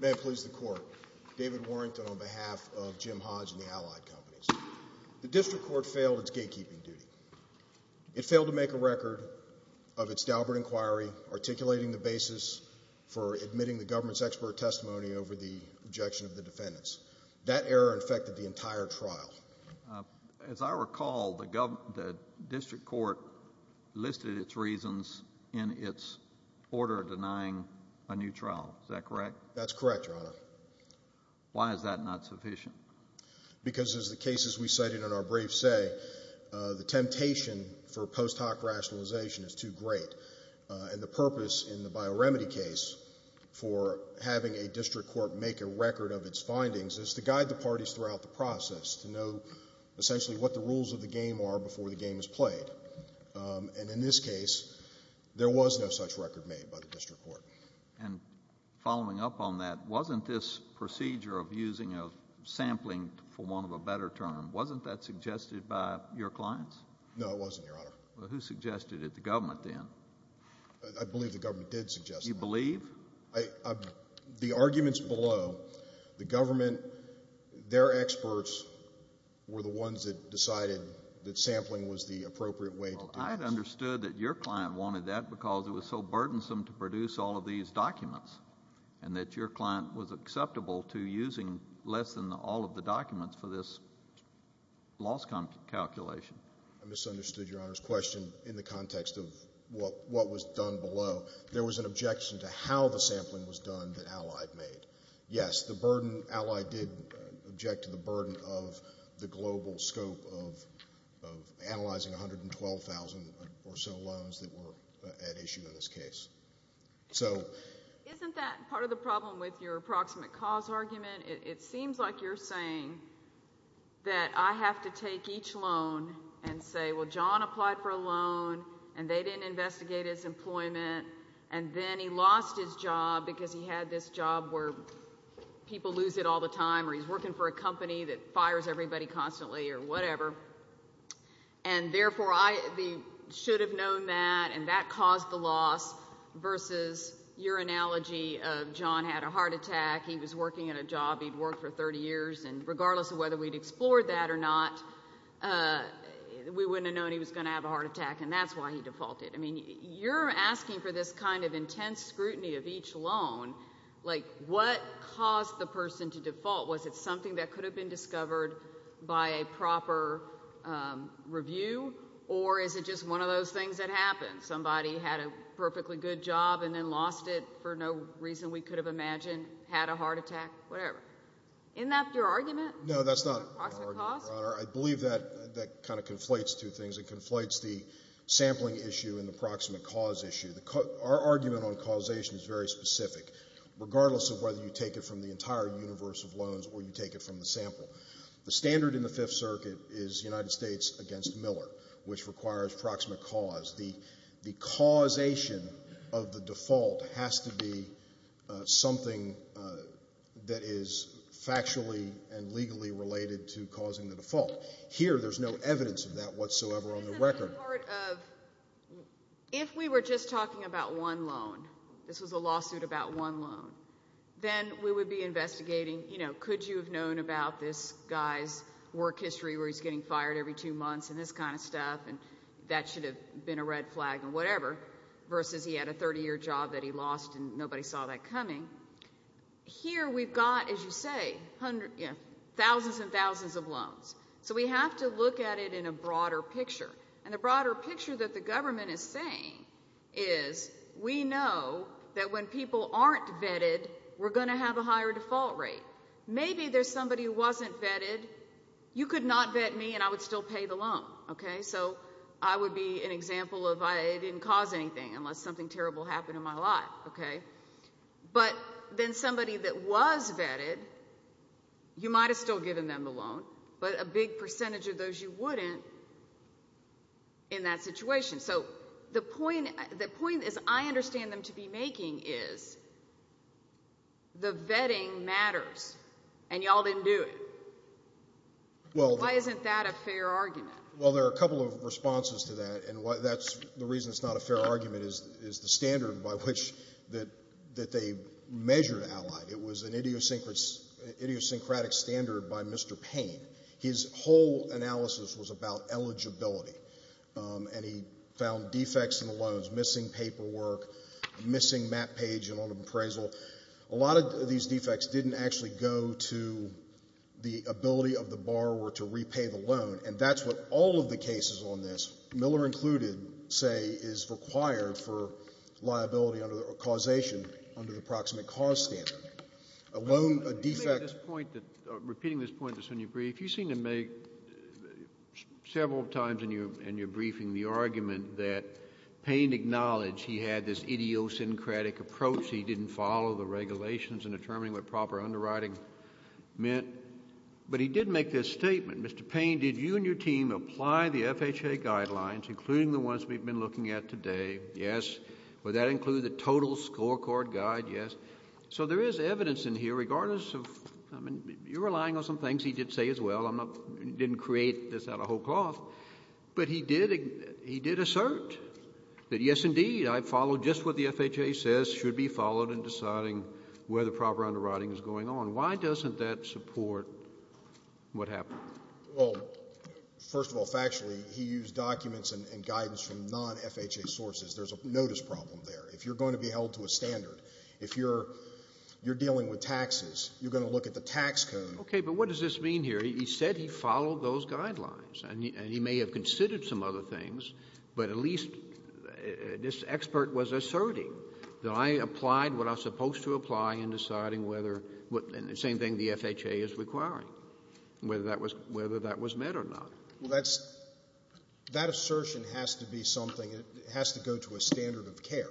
May I please the Court, David Warrington on behalf of Jim Hodge and the Allied Companies. The District Court failed its gatekeeping duty. It failed to make a record of its Daubert inquiry, articulating the basis for admitting the government's expert testimony over the objection of the defendants. That error affected the entire trial. As I recall, the District Court listed its reasons in its order denying a new trial. Is that correct? That's correct, Your Honor. Why is that not sufficient? Because, as the cases we cited in our brief say, the temptation for post hoc rationalization is too great. And the purpose in the bio-remedy case for having a District Court make a record of its findings is to guide the parties throughout the process to know essentially what the rules of the game are before the game is played. And in this case, there was no such record made by the District Court. And following up on that, wasn't this procedure of using a sampling for want of a better term, wasn't that suggested by your clients? No, it wasn't, Your Honor. Well, who suggested it? The government then? I believe the government did suggest it. You believe? The arguments below, the government, their experts were the ones that decided that sampling was the appropriate way to do this. I had understood that your client wanted that because it was so burdensome to produce all of these documents and that your client was acceptable to using less than all of the documents for this loss calculation. I misunderstood Your Honor's question in the context of what was done below. There was an objection to how the sampling was done that Allied made. Yes, the burden Allied did object to the burden of the global scope of analyzing 112,000 or so loans that were at issue in this case. Isn't that part of the problem with your approximate cause argument? It seems like you're saying that I have to take each loan and say, well, John applied for a loan and they didn't investigate his employment and then he lost his job because he had this job where people lose it all the time or he's working for a company that fires everybody constantly or whatever. And, therefore, I should have known that and that caused the loss versus your analogy of John had a heart attack, he was working at a job he'd worked for 30 years, and regardless of whether we'd explored that or not, we wouldn't have known he was going to have a heart attack and that's why he defaulted. I mean, you're asking for this kind of intense scrutiny of each loan. Like, what caused the person to default? Was it something that could have been discovered by a proper review or is it just one of those things that happens? Somebody had a perfectly good job and then lost it for no reason we could have imagined, had a heart attack, whatever. Isn't that your argument? No, that's not an argument, Your Honor. I believe that kind of conflates two things. It conflates the sampling issue and the proximate cause issue. Our argument on causation is very specific, regardless of whether you take it from the entire universe of loans or you take it from the sample. The standard in the Fifth Circuit is United States against Miller, which requires proximate cause. The causation of the default has to be something that is factually and legally related to causing the default. Here, there's no evidence of that whatsoever on the record. Isn't that part of – if we were just talking about one loan, this was a lawsuit about one loan, then we would be investigating, you know, versus he had a 30-year job that he lost and nobody saw that coming. Here we've got, as you say, thousands and thousands of loans. So we have to look at it in a broader picture. And the broader picture that the government is saying is we know that when people aren't vetted, we're going to have a higher default rate. Maybe there's somebody who wasn't vetted. You could not vet me and I would still pay the loan. So I would be an example of I didn't cause anything unless something terrible happened in my life. But then somebody that was vetted, you might have still given them the loan, but a big percentage of those you wouldn't in that situation. So the point is I understand them to be making is the vetting matters and you all didn't do it. Why isn't that a fair argument? Well, there are a couple of responses to that. And the reason it's not a fair argument is the standard by which they measured Allied. It was an idiosyncratic standard by Mr. Payne. His whole analysis was about eligibility. And he found defects in the loans, missing paperwork, missing map page and loan appraisal. A lot of these defects didn't actually go to the ability of the borrower to repay the loan. And that's what all of the cases on this, Miller included, say, is required for liability under the causation under the approximate cause standard. A loan, a defect. Let me make this point, repeating this point just when you brief. You seem to make several times in your briefing the argument that Payne acknowledged he had this idiosyncratic approach, he didn't follow the regulations in determining what proper underwriting meant. But he did make this statement. Mr. Payne, did you and your team apply the FHA guidelines, including the ones we've been looking at today? Yes. Would that include the total scorecard guide? Yes. So there is evidence in here regardless of, I mean, you're relying on some things he did say as well. I'm not, didn't create this out of whole cloth. But he did assert that, yes, indeed, I follow just what the FHA says should be followed in deciding where the proper underwriting is going on. Why doesn't that support what happened? Well, first of all, factually, he used documents and guidance from non-FHA sources. There's a notice problem there. If you're going to be held to a standard, if you're dealing with taxes, you're going to look at the tax code. Okay, but what does this mean here? He said he followed those guidelines. And he may have considered some other things, but at least this expert was asserting that I applied what I was supposed to apply in deciding whether, and the same thing the FHA is requiring, whether that was met or not. Well, that's, that assertion has to be something, it has to go to a standard of care.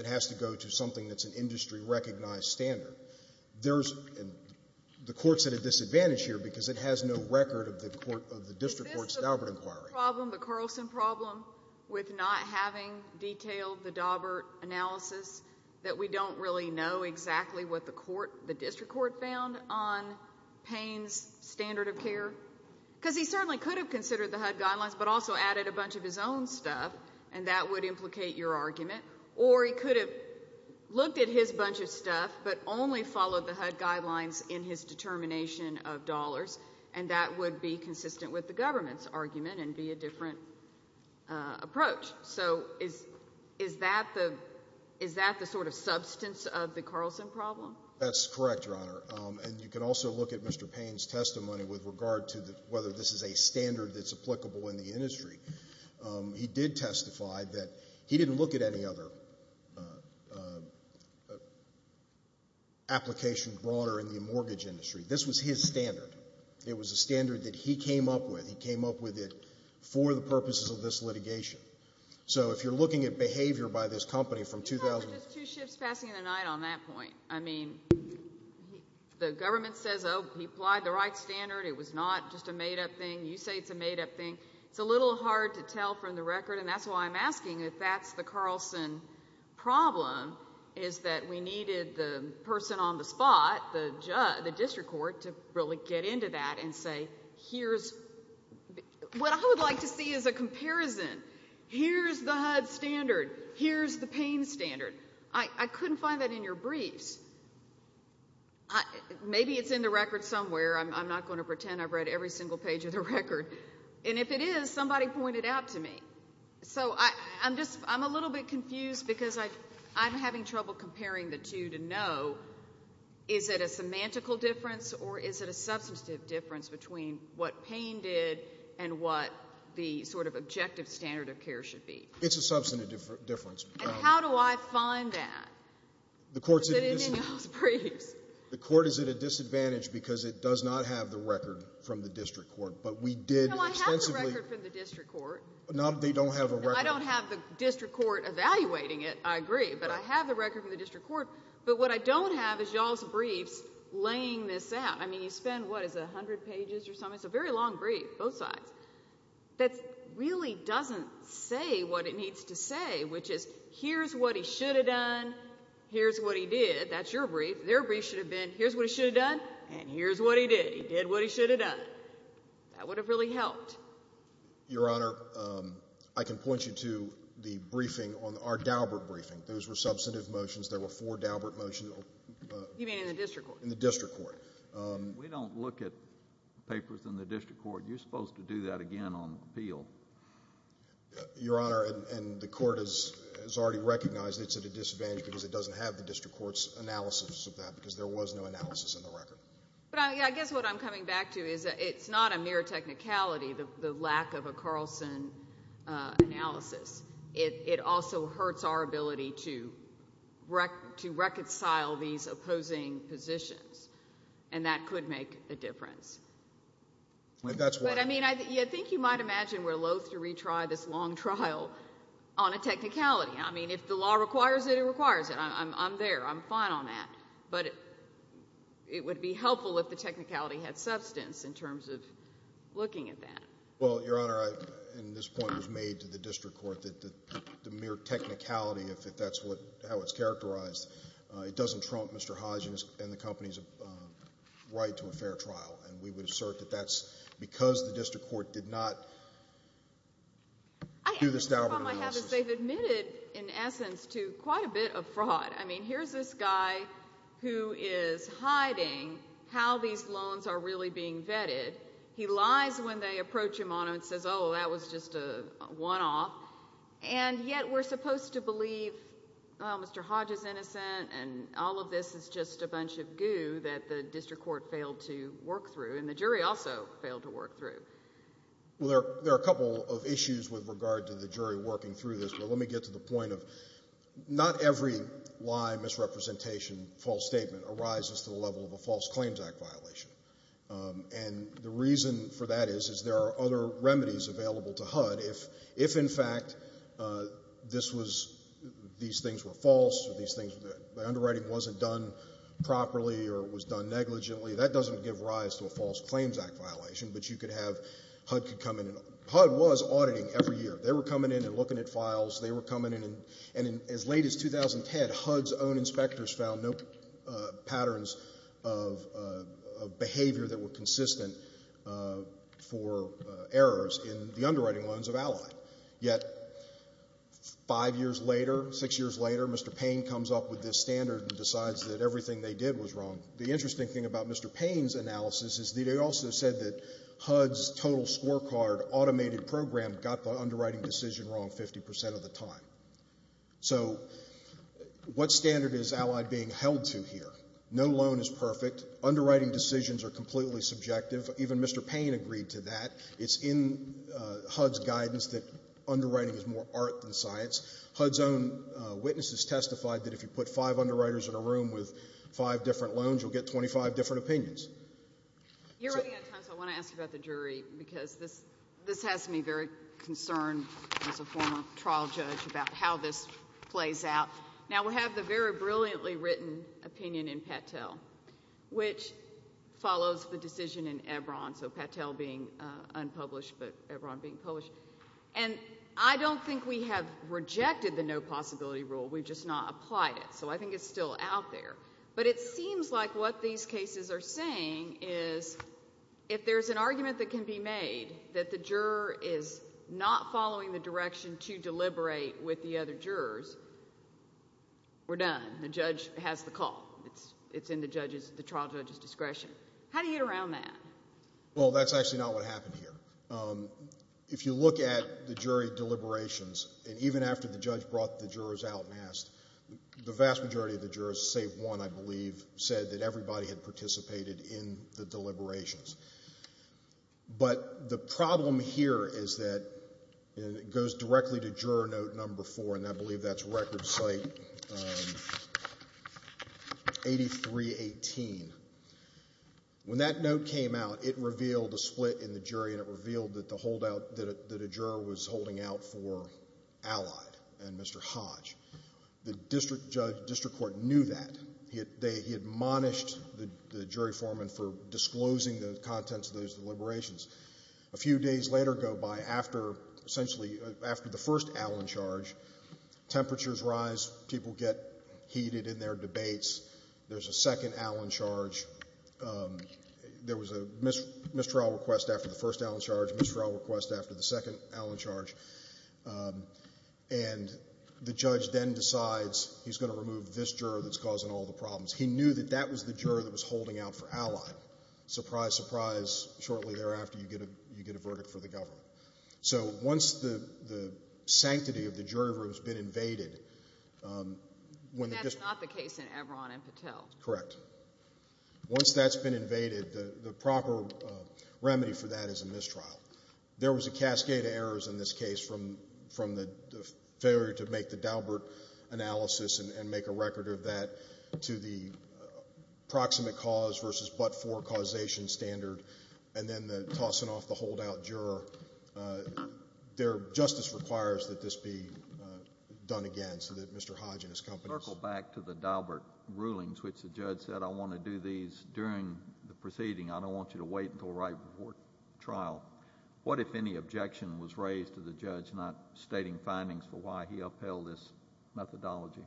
It has to go to something that's an industry-recognized standard. There's, the Court's at a disadvantage here because it has no record of the District Court's Daubert inquiry. Is this problem, the Carlson problem, with not having detailed the Daubert analysis, that we don't really know exactly what the District Court found on Payne's standard of care? Because he certainly could have considered the HUD guidelines but also added a bunch of his own stuff, and that would implicate your argument. Or he could have looked at his bunch of stuff but only followed the HUD guidelines in his determination of dollars, and that would be consistent with the government's argument and be a different approach. So is that the sort of substance of the Carlson problem? That's correct, Your Honor. And you can also look at Mr. Payne's testimony with regard to whether this is a standard that's applicable in the industry. He did testify that he didn't look at any other application broader in the mortgage industry. This was his standard. It was a standard that he came up with. He came up with it for the purposes of this litigation. So if you're looking at behavior by this company from 2000 to— It's not just two ships passing in the night on that point. I mean, the government says, oh, he applied the right standard. It was not just a made-up thing. You say it's a made-up thing. It's a little hard to tell from the record, and that's why I'm asking if that's the Carlson problem, is that we needed the person on the spot, the district court, to really get into that and say, here's—what I would like to see is a comparison. Here's the HUD standard. Here's the Payne standard. I couldn't find that in your briefs. Maybe it's in the record somewhere. I'm not going to pretend I've read every single page of the record. And if it is, somebody point it out to me. So I'm just—I'm a little bit confused because I'm having trouble comparing the two to know, is it a semantical difference or is it a substantive difference between what Payne did and what the sort of objective standard of care should be? It's a substantive difference. And how do I find that? The court's at a disadvantage— Is it in those briefs? The court is at a disadvantage because it does not have the record from the district court, but we did extensively— No, I have the record from the district court. No, they don't have a record. I don't have the district court evaluating it, I agree, but I have the record from the district court. But what I don't have is y'all's briefs laying this out. I mean, you spend, what, is it 100 pages or something? It's a very long brief, both sides, that really doesn't say what it needs to say, which is here's what he should have done, here's what he did. That's your brief. Their brief should have been here's what he should have done, and here's what he did. He did what he should have done. That would have really helped. Your Honor, I can point you to the briefing on our Daubert briefing. Those were substantive motions. There were four Daubert motions. You mean in the district court? In the district court. We don't look at papers in the district court. You're supposed to do that again on appeal. Your Honor, and the court has already recognized it's at a disadvantage because it doesn't have the district court's analysis of that because there was no analysis in the record. I guess what I'm coming back to is it's not a mere technicality, the lack of a Carlson analysis. It also hurts our ability to reconcile these opposing positions, and that could make a difference. That's why. But, I mean, I think you might imagine we're loathe to retry this long trial on a technicality. I mean, if the law requires it, it requires it. I'm there. I'm fine on that. But it would be helpful if the technicality had substance in terms of looking at that. Well, Your Honor, and this point was made to the district court, that the mere technicality, if that's how it's characterized, it doesn't trump Mr. Hodgins and the company's right to a fair trial, and we would assert that that's because the district court did not do this Daubert analysis. I have to say they've admitted, in essence, to quite a bit of fraud. I mean, here's this guy who is hiding how these loans are really being vetted. He lies when they approach him on them and says, oh, that was just a one-off. And yet we're supposed to believe, well, Mr. Hodges is innocent, and all of this is just a bunch of goo that the district court failed to work through, and the jury also failed to work through. Well, there are a couple of issues with regard to the jury working through this, but let me get to the point of not every lie, misrepresentation, false statement arises to the level of a False Claims Act violation, and the reason for that is there are other remedies available to HUD. If, in fact, these things were false or the underwriting wasn't done properly or it was done negligently, that doesn't give rise to a False Claims Act violation, but you could have HUD come in. They were coming in, and as late as 2010, HUD's own inspectors found no patterns of behavior that were consistent for errors in the underwriting loans of Ally. Yet five years later, six years later, Mr. Payne comes up with this standard and decides that everything they did was wrong. The interesting thing about Mr. Payne's analysis is that he also said that HUD's total scorecard automated program got the underwriting decision wrong 50% of the time. So what standard is Ally being held to here? No loan is perfect. Underwriting decisions are completely subjective. Even Mr. Payne agreed to that. It's in HUD's guidance that underwriting is more art than science. HUD's own witnesses testified that if you put five underwriters in a room with five different loans, you'll get 25 different opinions. You're running out of time, so I want to ask about the jury, because this has me very concerned as a former trial judge about how this plays out. Now, we have the very brilliantly written opinion in Patel, which follows the decision in Ebron, so Patel being unpublished but Ebron being published. And I don't think we have rejected the no possibility rule. We've just not applied it. So I think it's still out there. But it seems like what these cases are saying is if there's an argument that can be made that the juror is not following the direction to deliberate with the other jurors, we're done. The judge has the call. It's in the trial judge's discretion. How do you get around that? Well, that's actually not what happened here. If you look at the jury deliberations, and even after the judge brought the jurors out and asked, the vast majority of the jurors, save one, I believe, said that everybody had participated in the deliberations. But the problem here is that it goes directly to juror note number four, and I believe that's record site 8318. When that note came out, it revealed a split in the jury and it revealed that the holdout that a juror was holding out for allied and Mr. Hodge. The district court knew that. He admonished the jury foreman for disclosing the contents of those deliberations. A few days later go by, essentially after the first Allen charge, temperatures rise. People get heated in their debates. There's a second Allen charge. There was a mistrial request after the first Allen charge, mistrial request after the second Allen charge. And the judge then decides he's going to remove this juror that's causing all the problems. He knew that that was the juror that was holding out for allied. Surprise, surprise. Shortly thereafter, you get a verdict for the government. So once the sanctity of the jury room has been invaded, when the district... But that's not the case in Evron and Patel. Correct. Once that's been invaded, the proper remedy for that is a mistrial. There was a cascade of errors in this case from the failure to make the Daubert analysis and make a record of that to the proximate cause versus but-for causation standard and then the tossing off the holdout juror. Justice requires that this be done again so that Mr. Hodge and his company... Circle back to the Daubert rulings, which the judge said, I want to do these during the proceeding. I don't want you to wait until right before trial. What, if any, objection was raised to the judge not stating findings for why he upheld this methodology?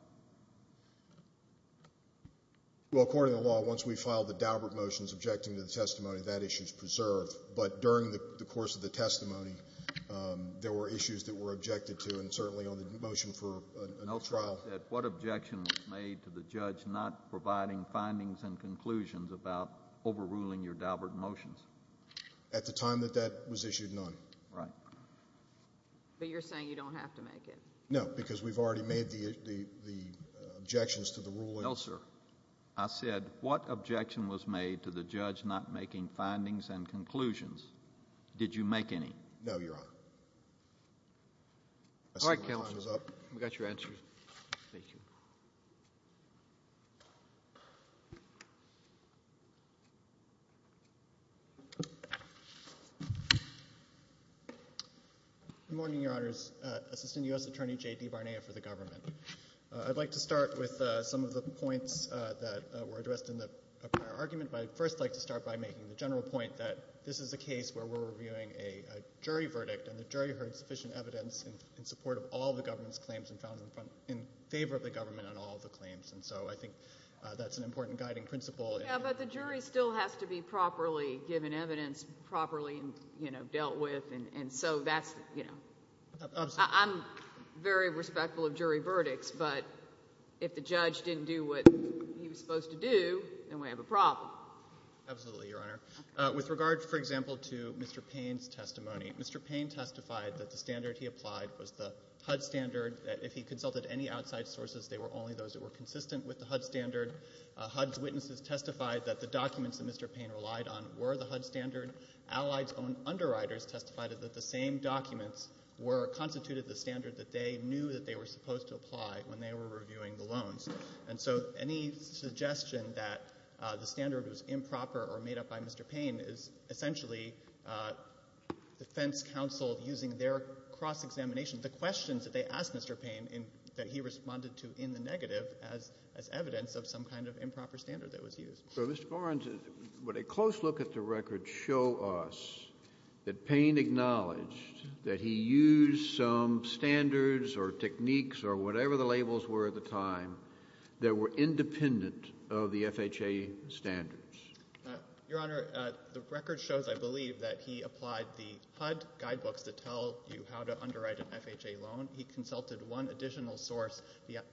Well, according to the law, once we file the Daubert motions objecting to the testimony, that issue is preserved. But during the course of the testimony, there were issues that were objected to, and certainly on the motion for a trial... At the time that that was issued, none. Right. But you're saying you don't have to make it? No, because we've already made the objections to the ruling. No, sir. I said, what objection was made to the judge not making findings and conclusions? Did you make any? No, Your Honor. All right, counsel. We've got your answers. Thank you. Good morning, Your Honors. Assistant U.S. Attorney J.D. Barnea for the government. I'd like to start with some of the points that were addressed in the prior argument, but I'd first like to start by making the general point that this is a case where we're reviewing a jury verdict, and the jury heard sufficient evidence in support of all the government's claims and found them in favor of the government on all of the claims. And so I think that's an important guiding principle. Yeah, but the jury still has to be properly given evidence, properly, you know, dealt with. And so that's, you know, I'm very respectful of jury verdicts, but if the judge didn't do what he was supposed to do, then we have a problem. Absolutely, Your Honor. With regard, for example, to Mr. Payne's testimony, Mr. Payne testified that the standard he applied was the HUD standard, that if he consulted any outside sources, they were only those that were consistent with the HUD standard. HUD's witnesses testified that the documents that Mr. Payne relied on were the HUD standard. Allied's own underwriters testified that the same documents were constituted the standard that they knew that they were supposed to apply when they were reviewing the loans. And so any suggestion that the standard was improper or made up by Mr. Payne is essentially defense counsel using their cross-examination. The questions that they asked Mr. Payne that he responded to in the negative as evidence of some kind of improper standard that was used. So, Mr. Barnes, would a close look at the record show us that Payne acknowledged that he used some standards or techniques or whatever the labels were at the time that were independent of the FHA standards? Your Honor, the record shows, I believe, that he applied the HUD guidebooks that tell you how to underwrite an FHA loan. He consulted one additional source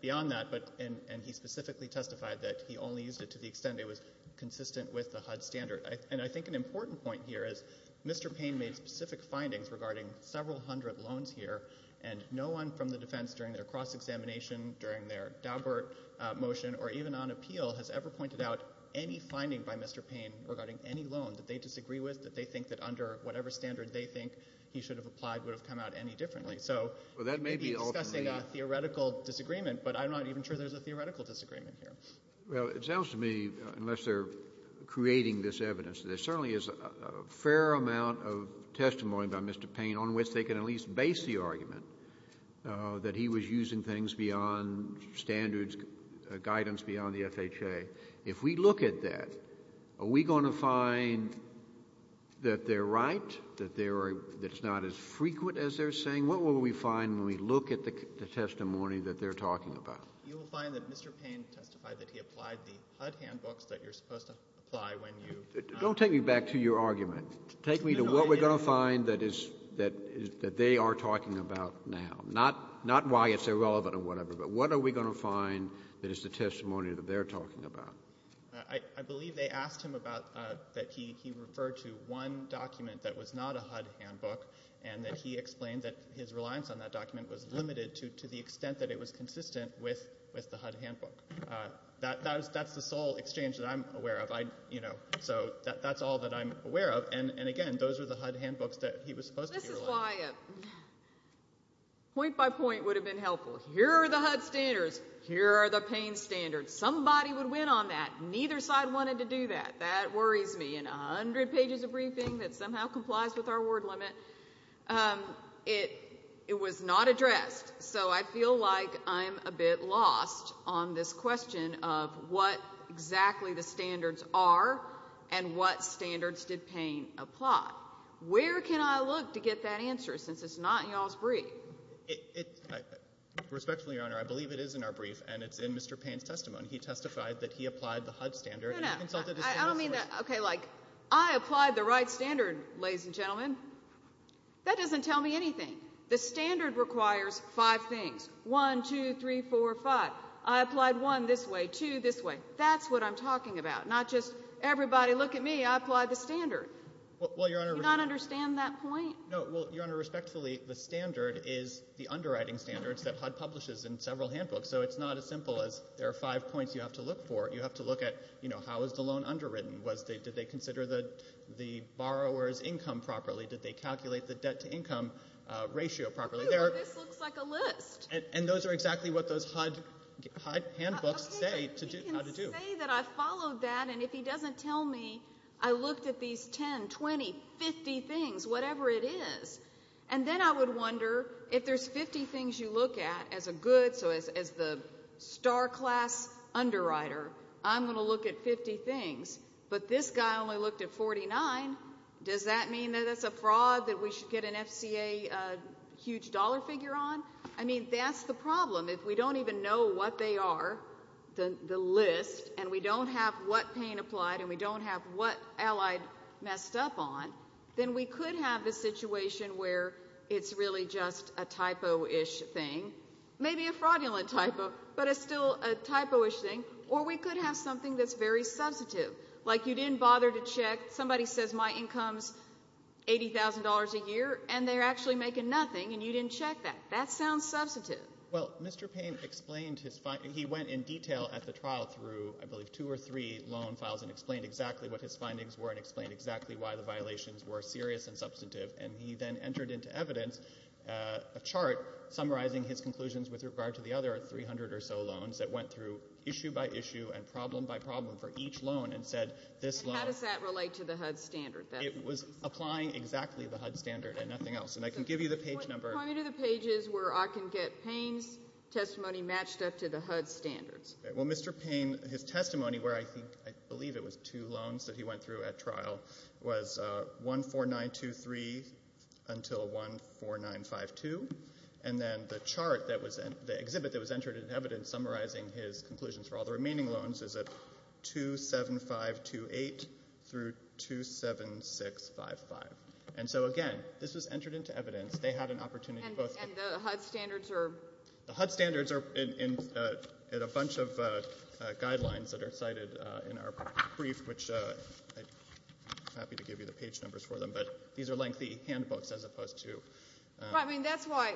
beyond that, and he specifically testified that he only used it to the extent it was consistent with the HUD standard. And I think an important point here is Mr. Payne made specific findings regarding several hundred loans here, and no one from the defense during their cross-examination, during their Daubert motion, or even on appeal has ever pointed out any finding by Mr. Payne regarding any loan that they disagree with, that they think that under whatever standard they think he should have applied would have come out any differently. So he may be discussing a theoretical disagreement, but I'm not even sure there's a theoretical disagreement here. Well, it sounds to me, unless they're creating this evidence, there certainly is a fair amount of testimony by Mr. Payne on which they can at least base the argument that he was using things beyond standards, guidance beyond the FHA. If we look at that, are we going to find that they're right, that it's not as frequent as they're saying? What will we find when we look at the testimony that they're talking about? You will find that Mr. Payne testified that he applied the HUD handbooks that you're supposed to apply when you— Don't take me back to your argument. Take me to what we're going to find that they are talking about now. Not why it's irrelevant or whatever, but what are we going to find that is the testimony that they're talking about? I believe they asked him about that he referred to one document that was not a HUD handbook and that he explained that his reliance on that document was limited to the extent that it was consistent with the HUD handbook. That's the sole exchange that I'm aware of. So that's all that I'm aware of. And, again, those are the HUD handbooks that he was supposed to be relying on. This is why a point-by-point would have been helpful. Here are the HUD standards. Here are the Payne standards. Somebody would win on that. Neither side wanted to do that. That worries me. And a hundred pages of briefing that somehow complies with our word limit. It was not addressed, so I feel like I'm a bit lost on this question of what exactly the standards are and what standards did Payne apply. Where can I look to get that answer since it's not in y'all's brief? Respectfully, Your Honor, I believe it is in our brief, and it's in Mr. Payne's testimony. He testified that he applied the HUD standard. No, no. I don't mean that. Okay, like, I applied the right standard, ladies and gentlemen. That doesn't tell me anything. The standard requires five things. One, two, three, four, five. I applied one this way, two this way. Not just everybody look at me. I applied the standard. Well, Your Honor. Do you not understand that point? No, well, Your Honor, respectfully, the standard is the underwriting standards that HUD publishes in several handbooks, so it's not as simple as there are five points you have to look for. You have to look at, you know, how is the loan underwritten? Did they consider the borrower's income properly? Did they calculate the debt-to-income ratio properly? This looks like a list. And those are exactly what those HUD handbooks say how to do. I would say that I followed that, and if he doesn't tell me I looked at these 10, 20, 50 things, whatever it is, and then I would wonder if there's 50 things you look at as a good, so as the star-class underwriter, I'm going to look at 50 things, but this guy only looked at 49. Does that mean that that's a fraud that we should get an FCA huge dollar figure on? I mean, that's the problem. If we don't even know what they are, the list, and we don't have what pain applied and we don't have what allied messed up on, then we could have the situation where it's really just a typo-ish thing, maybe a fraudulent typo, but it's still a typo-ish thing, or we could have something that's very substantive, like you didn't bother to check. Somebody says my income's $80,000 a year, and they're actually making nothing, and you didn't check that. That sounds substantive. Well, Mr. Payne explained his findings. He went in detail at the trial through, I believe, two or three loan files and explained exactly what his findings were and explained exactly why the violations were serious and substantive, and he then entered into evidence a chart summarizing his conclusions with regard to the other 300 or so loans that went through issue by issue and problem by problem for each loan and said this loan. How does that relate to the HUD standard? It was applying exactly the HUD standard and nothing else, and I can give you the page number. Point me to the pages where I can get Payne's testimony matched up to the HUD standards. Well, Mr. Payne, his testimony where I believe it was two loans that he went through at trial was 14923 until 14952, and then the chart that was in the exhibit that was entered into evidence summarizing his conclusions for all the remaining loans is at 27528 through 27655. And so, again, this was entered into evidence. They had an opportunity to both get... And the HUD standards are... The HUD standards are in a bunch of guidelines that are cited in our brief, which I'm happy to give you the page numbers for them, but these are lengthy handbooks as opposed to... Well, I mean, that's why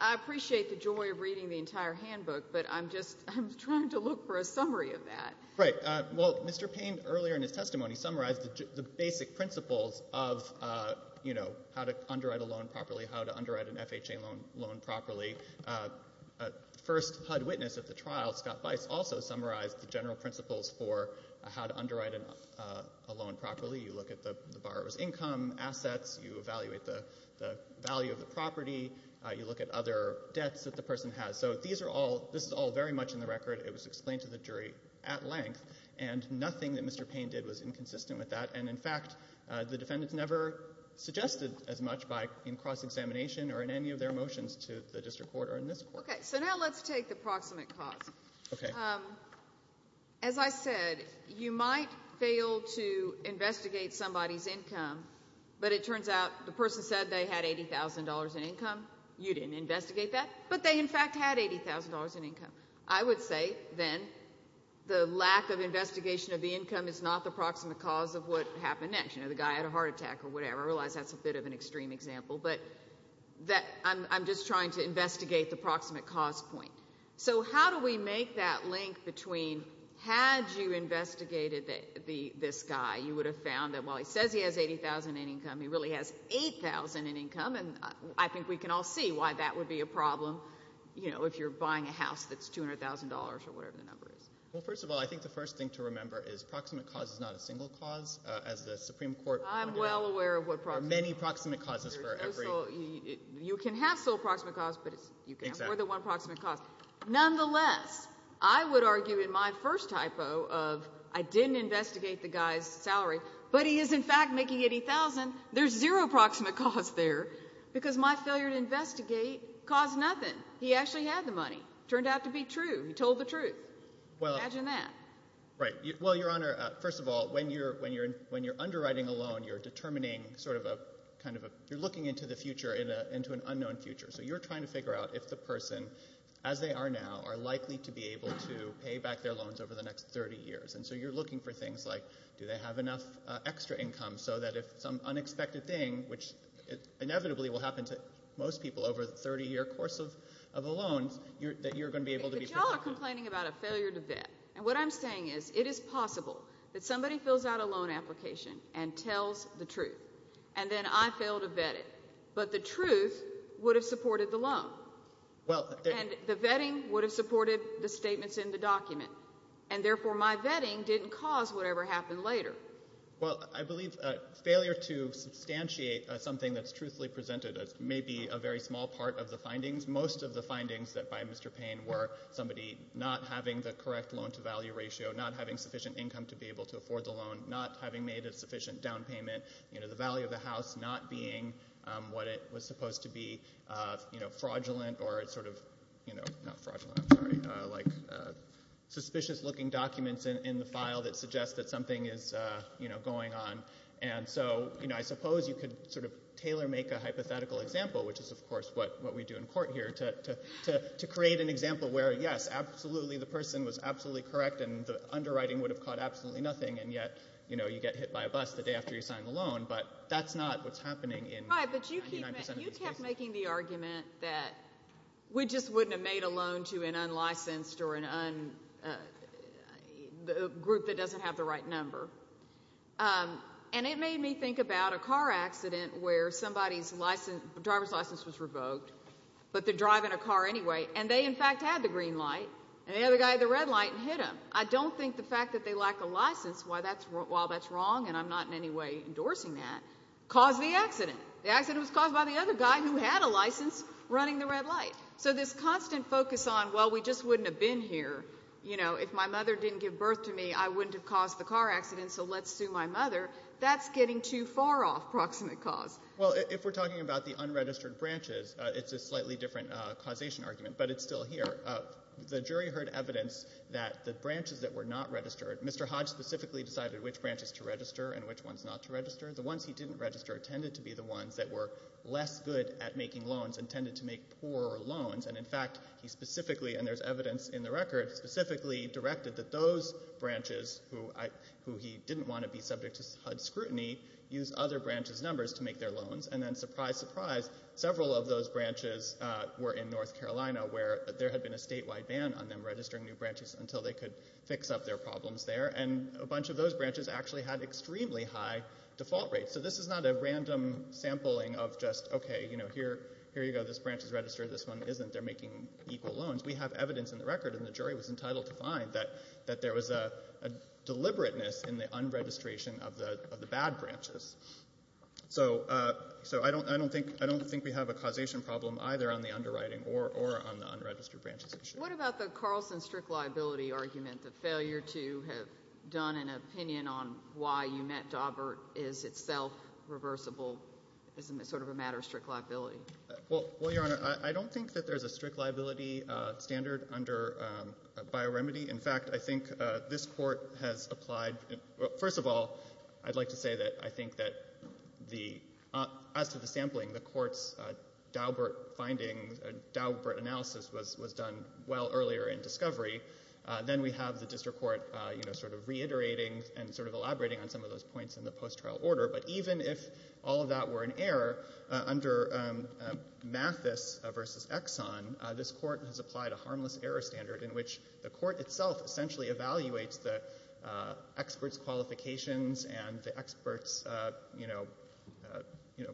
I appreciate the joy of reading the entire handbook, but I'm just trying to look for a summary of that. Right. Well, Mr. Payne earlier in his testimony summarized the basic principles of, you know, how to underwrite a loan properly, how to underwrite an FHA loan properly. The first HUD witness at the trial, Scott Bice, also summarized the general principles for how to underwrite a loan properly. You look at the borrower's income, assets. You evaluate the value of the property. You look at other debts that the person has. So these are all... This is all very much in the record. It was explained to the jury at length, and nothing that Mr. Payne did was inconsistent with that. And, in fact, the defendants never suggested as much in cross-examination or in any of their motions to the district court or in this court. Okay, so now let's take the proximate cause. Okay. As I said, you might fail to investigate somebody's income, but it turns out the person said they had $80,000 in income. You didn't investigate that, but they, in fact, had $80,000 in income. I would say, then, the lack of investigation of the income is not the proximate cause of what happened next. You know, the guy had a heart attack or whatever. I realize that's a bit of an extreme example, but I'm just trying to investigate the proximate cause point. So how do we make that link between had you investigated this guy, you would have found that while he says he has $80,000 in income, he really has $8,000 in income, and I think we can all see why that would be a problem, you know, if you're buying a house that's $200,000 or whatever the number is. Well, first of all, I think the first thing to remember is proximate cause is not a single cause, as the Supreme Court pointed out. I'm well aware of what proximate cause is. There are many proximate causes for every... You can have sole proximate cause, but you can't afford the one proximate cause. Nonetheless, I would argue in my first typo of I didn't investigate the guy's salary, but he is, in fact, making $80,000. There's zero proximate cause there because my failure to investigate caused nothing. He actually had the money. It turned out to be true. He told the truth. Imagine that. Right. Well, Your Honor, first of all, when you're underwriting a loan, you're determining sort of a kind of a... You're looking into the future, into an unknown future. So you're trying to figure out if the person, as they are now, are likely to be able to pay back their loans over the next 30 years. And so you're looking for things like do they have enough extra income so that if some unexpected thing, which inevitably will happen to most people over the 30-year course of a loan, that you're going to be able to be... But y'all are complaining about a failure to vet. And what I'm saying is it is possible that somebody fills out a loan application and tells the truth, and then I fail to vet it, but the truth would have supported the loan. And the vetting would have supported the statements in the document, and therefore my vetting didn't cause whatever happened later. Well, I believe failure to substantiate something that's truthfully presented may be a very small part of the findings. Most of the findings by Mr. Payne were somebody not having the correct loan-to-value ratio, not having sufficient income to be able to afford the loan, not having made a sufficient down payment, you know, the value of the house not being what it was supposed to be, you know, fraudulent or sort of, you know, not fraudulent, I'm sorry, like suspicious-looking documents in the file that suggest that something is, you know, going on. And so, you know, I suppose you could sort of tailor-make a hypothetical example, which is, of course, what we do in court here, to create an example where, yes, absolutely, the person was absolutely correct and the underwriting would have caught absolutely nothing, and yet, you know, you get hit by a bus the day after you sign the loan, but that's not what's happening in 99% of these cases. Right, but you kept making the argument that we just wouldn't have made a loan to an unlicensed or a group that doesn't have the right number. And it made me think about a car accident where somebody's driver's license was revoked, but they're driving a car anyway, and they, in fact, had the green light and the other guy had the red light and hit them. I don't think the fact that they lack a license, while that's wrong and I'm not in any way endorsing that, caused the accident. The accident was caused by the other guy who had a license running the red light. So this constant focus on, well, we just wouldn't have been here, you know, if my mother didn't give birth to me, I wouldn't have caused the car accident, so let's sue my mother, that's getting too far off proximate cause. Well, if we're talking about the unregistered branches, it's a slightly different causation argument, but it's still here. The jury heard evidence that the branches that were not registered, Mr. Hodge specifically decided which branches to register and which ones not to register. The ones he didn't register tended to be the ones that were less good at making loans and tended to make poorer loans. And in fact, he specifically, and there's evidence in the record, specifically directed that those branches who he didn't want to be subject to HUD scrutiny use other branches' numbers to make their loans. And then, surprise, surprise, several of those branches were in North Carolina, where there had been a statewide ban on them registering new branches until they could fix up their problems there. And a bunch of those branches actually had extremely high default rates. So this is not a random sampling of just, OK, you know, here you go, this branch is registered, this one isn't, they're making equal loans. We have evidence in the record, and the jury was entitled to find that there was a deliberateness in the unregistration of the bad branches. So I don't think we have a causation problem either on the underwriting or on the unregistered branches issue. What about the Carlson strict liability argument, the failure to have done an opinion on why Umet-Daubert is itself reversible as sort of a matter of strict liability? Well, Your Honor, I don't think that there's a strict liability standard under bioremedy. In fact, I think this court has applied... First of all, I'd like to say that I think that the... As to the sampling, the court's Daubert finding, Daubert analysis was done well earlier in discovery. Then we have the district court, you know, sort of reiterating and sort of elaborating on some of those points in the post-trial order. But even if all of that were an error, under Mathis v. Exxon, this court has applied a harmless error standard in which the court itself essentially evaluates the expert's qualifications and the expert's, you know... you know,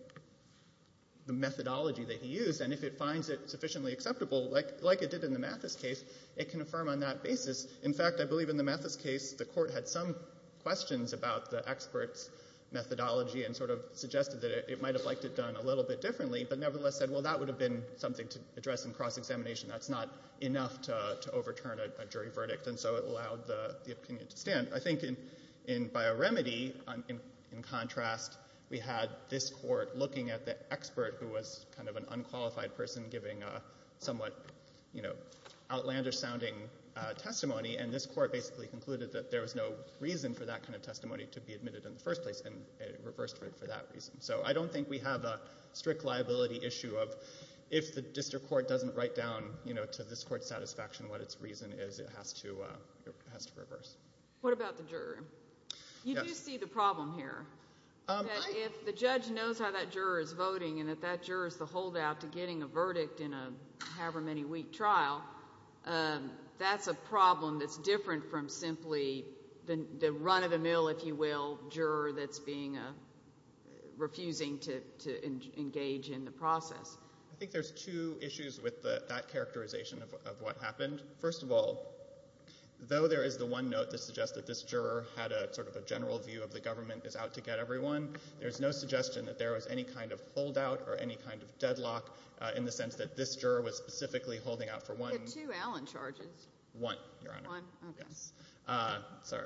the methodology that he used, and if it finds it sufficiently acceptable, like it did in the Mathis case, it can affirm on that basis. In fact, I believe in the Mathis case, the court had some questions about the expert's methodology and sort of suggested that it might have liked it done a little bit differently, but nevertheless said, well, that would have been something to address in cross-examination. That's not enough to overturn a jury verdict. And so it allowed the opinion to stand. I think in bioremedy, in contrast, we had this court looking at the expert who was kind of an unqualified person and giving a somewhat, you know, outlandish-sounding testimony, and this court basically concluded that there was no reason for that kind of testimony to be admitted in the first place, and it reversed for that reason. So I don't think we have a strict liability issue of if the district court doesn't write down, you know, to this court's satisfaction what its reason is, it has to reverse. What about the juror? You do see the problem here, that if the judge knows how that juror is voting and that that juror is the holdout to getting a verdict in a however-many-week trial, that's a problem that's different from simply the run-of-the-mill, if you will, juror that's being a... refusing to engage in the process. I think there's two issues with that characterization of what happened. First of all, though there is the one note that suggests that this juror had sort of a general view of the government is out to get everyone, there's no suggestion that there was any kind of holdout or any kind of deadlock in the sense that this juror was specifically holding out for one... He had two Allen charges. One, Your Honor. One? Okay. Sorry,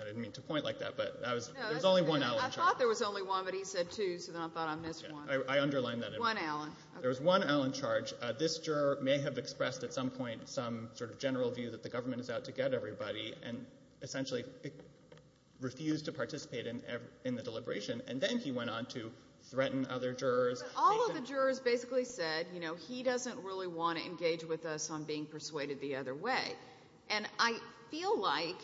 I didn't mean to point like that, but there was only one Allen charge. I thought there was only one, but he said two, so then I thought I missed one. I underlined that. One Allen. There was one Allen charge. This juror may have expressed at some point some sort of general view that the government is out to get everybody and essentially refused to participate in the deliberation, and then he went on to threaten other jurors. But all of the jurors basically said, you know, he doesn't really want to engage with us on being persuaded the other way, and I feel like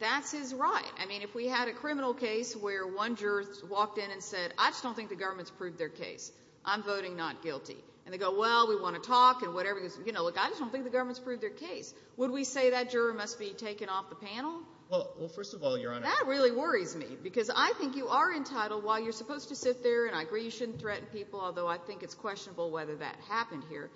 that's his right. I mean, if we had a criminal case where one juror walked in and said, I just don't think the government's proved their case. I'm voting not guilty. And they go, well, we want to talk and whatever. You know, look, I just don't think the government's proved their case. Would we say that juror must be taken off the panel? Well, first of all, Your Honor... That really worries me, because I think you are entitled, while you're supposed to sit there, and I agree you shouldn't threaten people, although I think it's questionable whether that happened here,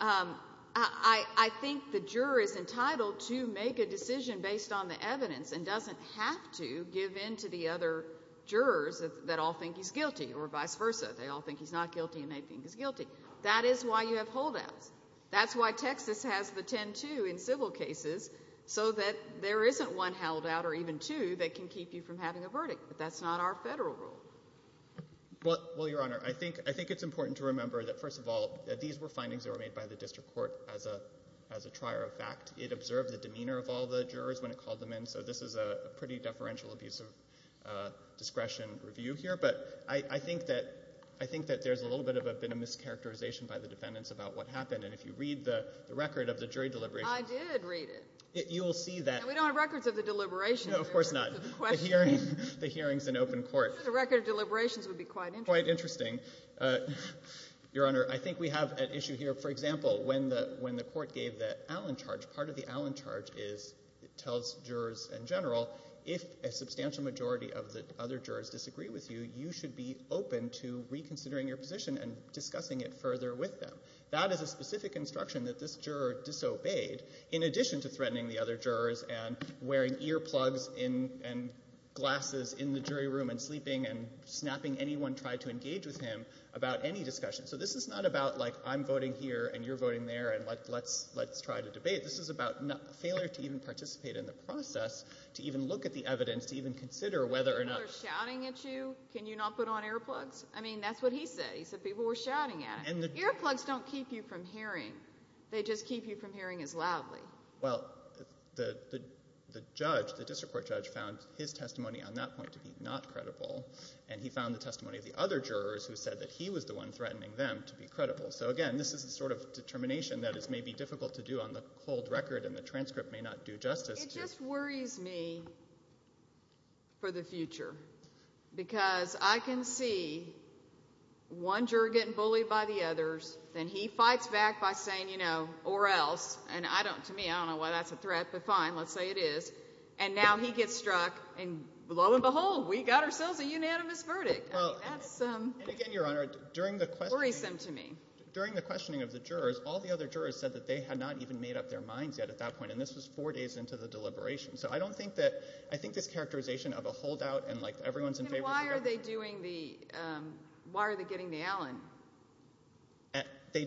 I think the juror is entitled to make a decision based on the evidence and doesn't have to give in to the other jurors that all think he's guilty, or vice versa. They all think he's not guilty, and they think he's guilty. That is why you have holdouts. That's why Texas has the 10-2 in civil cases, so that there isn't one holdout or even two that can keep you from having a verdict. That's not our federal rule. Well, Your Honor, I think it's important to remember that, first of all, these were findings that were made by the district court as a trier of fact. It observed the demeanor of all the jurors when it called them in, so this is a pretty deferential, abusive discretion review here. But I think that there's a little bit of a bit of mischaracterization by the defendants about what happened, and if you read the record of the jury deliberations... I did read it. You will see that... And we don't have records of the deliberations. No, of course not. The hearings in open court. The record of deliberations would be quite interesting. Quite interesting. Your Honor, I think we have an issue here. For example, when the court gave the Allen charge, part of the Allen charge tells jurors in general, if a substantial majority of the other jurors disagree with you, you should be open to reconsidering your position and discussing it further with them. That is a specific instruction that this juror disobeyed, in addition to threatening the other jurors and wearing earplugs and glasses in the jury room and sleeping and snapping anyone trying to engage with him about any discussion. So this is not about, like, I'm voting here and you're voting there, and let's try to debate. This is about failure to even participate in the process, to even look at the evidence, to even consider whether or not... People are shouting at you. Can you not put on earplugs? I mean, that's what he said. That's what he said. People were shouting at him. Earplugs don't keep you from hearing. They just keep you from hearing as loudly. Well, the judge, the district court judge, found his testimony on that point to be not credible, and he found the testimony of the other jurors who said that he was the one threatening them to be credible. So again, this is the sort of determination that is maybe difficult to do on the cold record and the transcript may not do justice to. It just worries me for the future because I can see one juror getting bullied by the others, then he fights back by saying, you know, or else, and to me, I don't know why that's a threat, but fine, let's say it is, and now he gets struck, and lo and behold, we got ourselves a unanimous verdict. That's, um... And again, Your Honor, during the questioning... It worries them to me. During the questioning of the jurors, all the other jurors said that they had not even made up their minds yet at that point, and this was four days into the deliberation. So I don't think that... And why are they doing the, um... Why are they getting the Allen? It's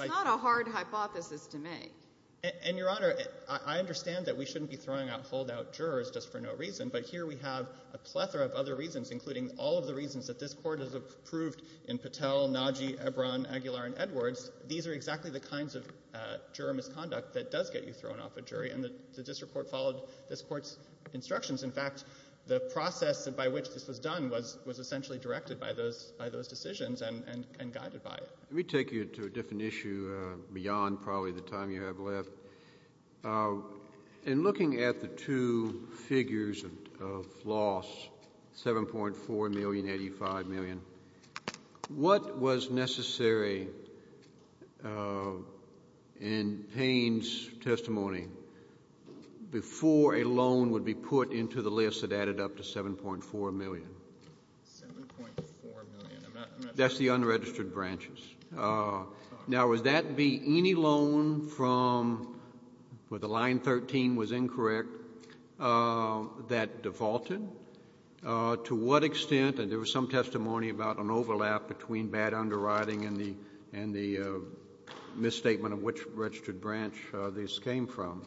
not a hard hypothesis to make. These are exactly the kinds of juror misconduct that does get you thrown off a jury, and the district court followed this court's instructions. In fact, the process by which this was done was essentially directed by those decisions and guided by it. Let me take you to a different issue beyond probably the time you have left. In looking at the two figures of loss, $7.4 million, $85 million, what was necessary in Payne's testimony before a loan would be put into the list that added up to $7.4 million? $7.4 million. I'm not... That's the unregistered branches. Now, would that be any loan from where the line 13 was incorrect that defaulted? To what extent... And there was some testimony about an overlap between bad underwriting and the misstatement of which registered branch this came from.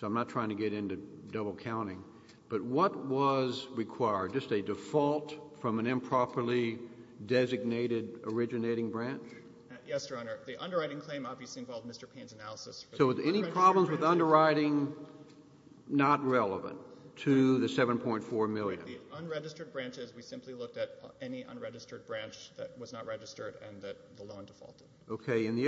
So I'm not trying to get into double-counting. But what was required? Just a default from an improperly designated originating branch? Yes, Your Honor. The underwriting claim obviously involved Mr. Payne's analysis... So were there any problems with underwriting not relevant to the $7.4 million? The unregistered branches, we simply looked at any unregistered branch that was not registered and that the loan defaulted. Okay. In the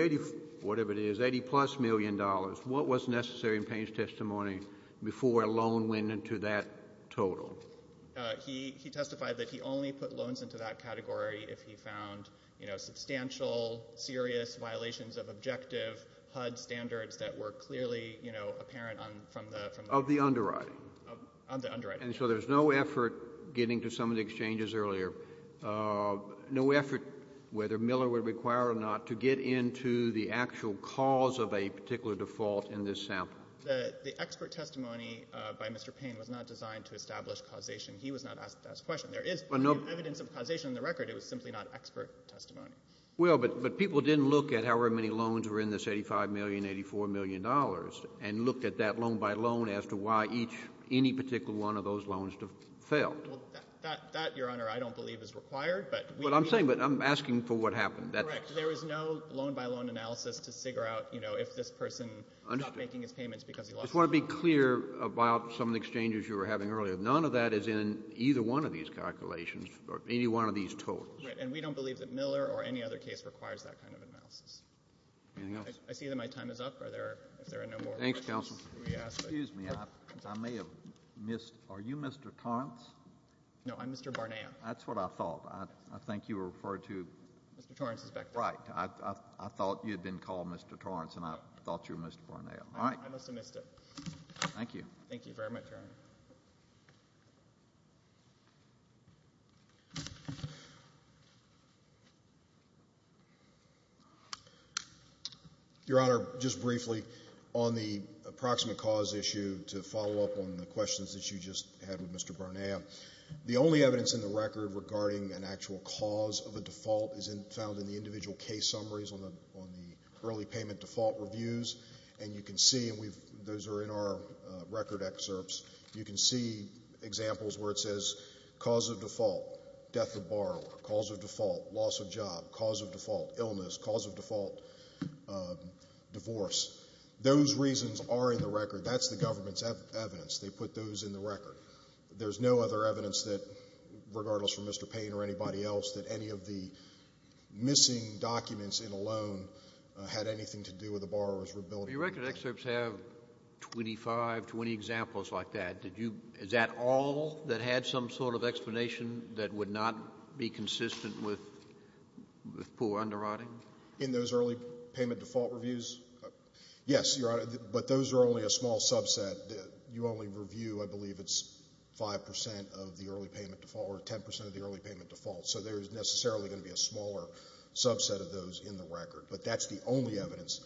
$80-plus million, what was necessary in Payne's testimony before a loan went into that total? He testified that he only put loans into that category if he found substantial, serious violations of objective HUD standards that were clearly apparent from the... Of the underwriting. Of the underwriting. And so there's no effort, getting to some of the exchanges earlier, no effort, whether Miller would require it or not, to get into the actual cause of a particular default in this sample. The expert testimony by Mr. Payne was not designed to establish causation. He was not asked that question. There is evidence of causation in the record. It was simply not expert testimony. Well, but people didn't look at however many loans were in this $85 million, $84 million and looked at that loan by loan as to why any particular one of those loans failed. Well, that, Your Honor, I don't believe is required, but... What I'm saying, but I'm asking for what happened. Correct. There was no loan-by-loan analysis to figure out, you know, if this person... Understood. ...is not making his payments because he lost a loan. I just want to be clear about some of the exchanges you were having earlier. None of that is in either one of these calculations or any one of these totals. Right. And we don't believe that Miller or any other case requires that kind of analysis. Anything else? I see that my time is up. Are there... If there are no more questions... I may have missed... Are you Mr. Torrance? No, I'm Mr. Barnea. That's what I thought. I think you were referred to... Mr. Torrance is back there. Right. I thought you had been called Mr. Torrance and I thought you were Mr. Barnea. All right. I must have missed it. Thank you. Thank you very much, Your Honor. Your Honor, just briefly, on the approximate cause issue to follow up on the questions that you just had with Mr. Barnea, the only evidence in the record regarding an actual cause of a default is found in the individual case summaries on the early payment default reviews. And you can see, and those are in our record excerpts, you can see examples where it says cause of default, death of borrower, cause of default, loss of job, cause of default, illness, cause of default, divorce. Those reasons are in the record. That's the government's evidence. They put those in the record. There's no other evidence that, regardless from Mr. Payne or anybody else, that any of the missing documents in a loan had anything to do with the borrower's ability... Your record excerpts have 25, 20 examples like that. Did you... Is that all that had some sort of explanation that would not be consistent with poor underwriting? In those early payment default reviews? Yes, Your Honor, but those are only a small subset. You only review, I believe, it's 5% of the early payment default or 10% of the early payment default, so there's necessarily going to be a smaller subset of those in the record. But that's the only evidence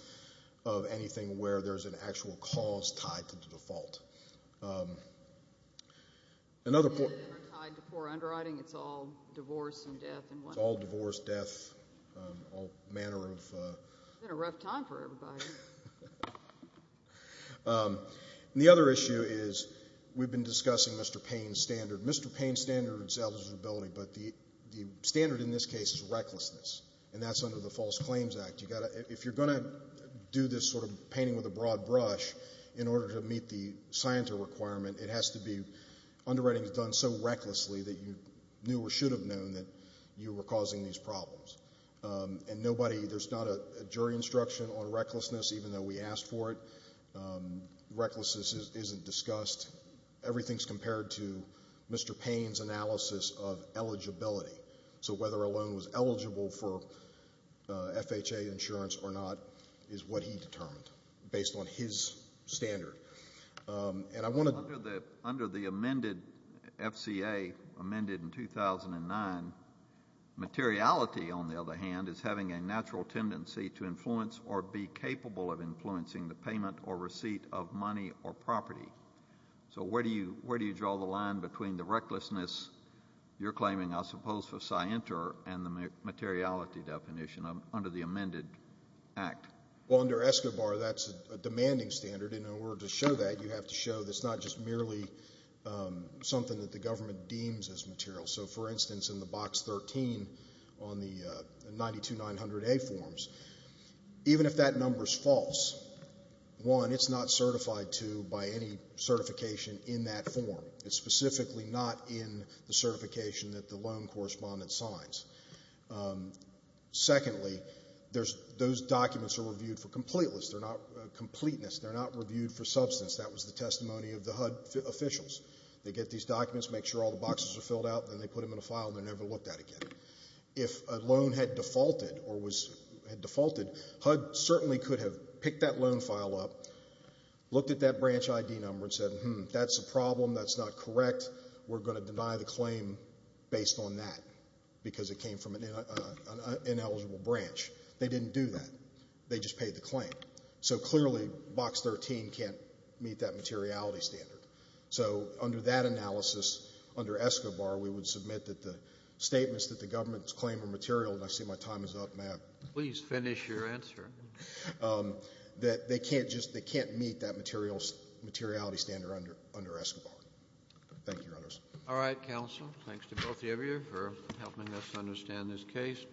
of anything where there's an actual cause tied to the default. Another point... Tied to poor underwriting, it's all divorce and death in one... It's all divorce, death, all manner of... It's been a rough time for everybody. And the other issue is we've been discussing Mr. Payne's standard. Mr. Payne's standard is eligibility, but the standard in this case is recklessness, and that's under the False Claims Act. If you're going to do this sort of painting with a broad brush in order to meet the scienter requirement, it has to be... Underwriting is done so recklessly that you knew or should have known that you were causing these problems. And nobody... There's not a jury instruction on recklessness, even though we asked for it. Recklessness isn't discussed. Everything's compared to Mr. Payne's analysis of eligibility. So whether a loan was eligible for FHA insurance or not is what he determined based on his standard. And I want to... Under the amended FCA, amended in 2009, materiality, on the other hand, is having a natural tendency to influence or be capable of influencing the payment or receipt of money or property. So where do you draw the line between the recklessness you're claiming, I suppose, for scienter and the materiality definition under the amended act? Well, under ESCOBAR, that's a demanding standard, and in order to show that, you have to show that it's not just merely something that the government deems as material. So, for instance, in the Box 13 on the 92900A forms, even if that number's false, one, it's not certified to by any certification in that form. It's specifically not in the certification that the loan correspondent signs. Secondly, those documents are reviewed for completeness. They're not reviewed for substance. That was the testimony of the HUD officials. They get these documents, make sure all the boxes are filled out, and then they put them in a file and they're never looked at again. If a loan had defaulted or had defaulted, HUD certainly could have picked that loan file up, looked at that branch ID number and said, hmm, that's a problem, that's not correct, we're going to deny the claim based on that They didn't do that. They just paid the claim. So, clearly, Box 13 can't meet that materiality standard. So, under that analysis, under ESCOBAR, we would submit that the statements that the government's claim of material, and I see my time is up, Matt. Please finish your answer. That they can't meet that materiality standard under ESCOBAR. Thank you, Your Honors. All right, counsel. Thanks to both of you for helping us understand this case.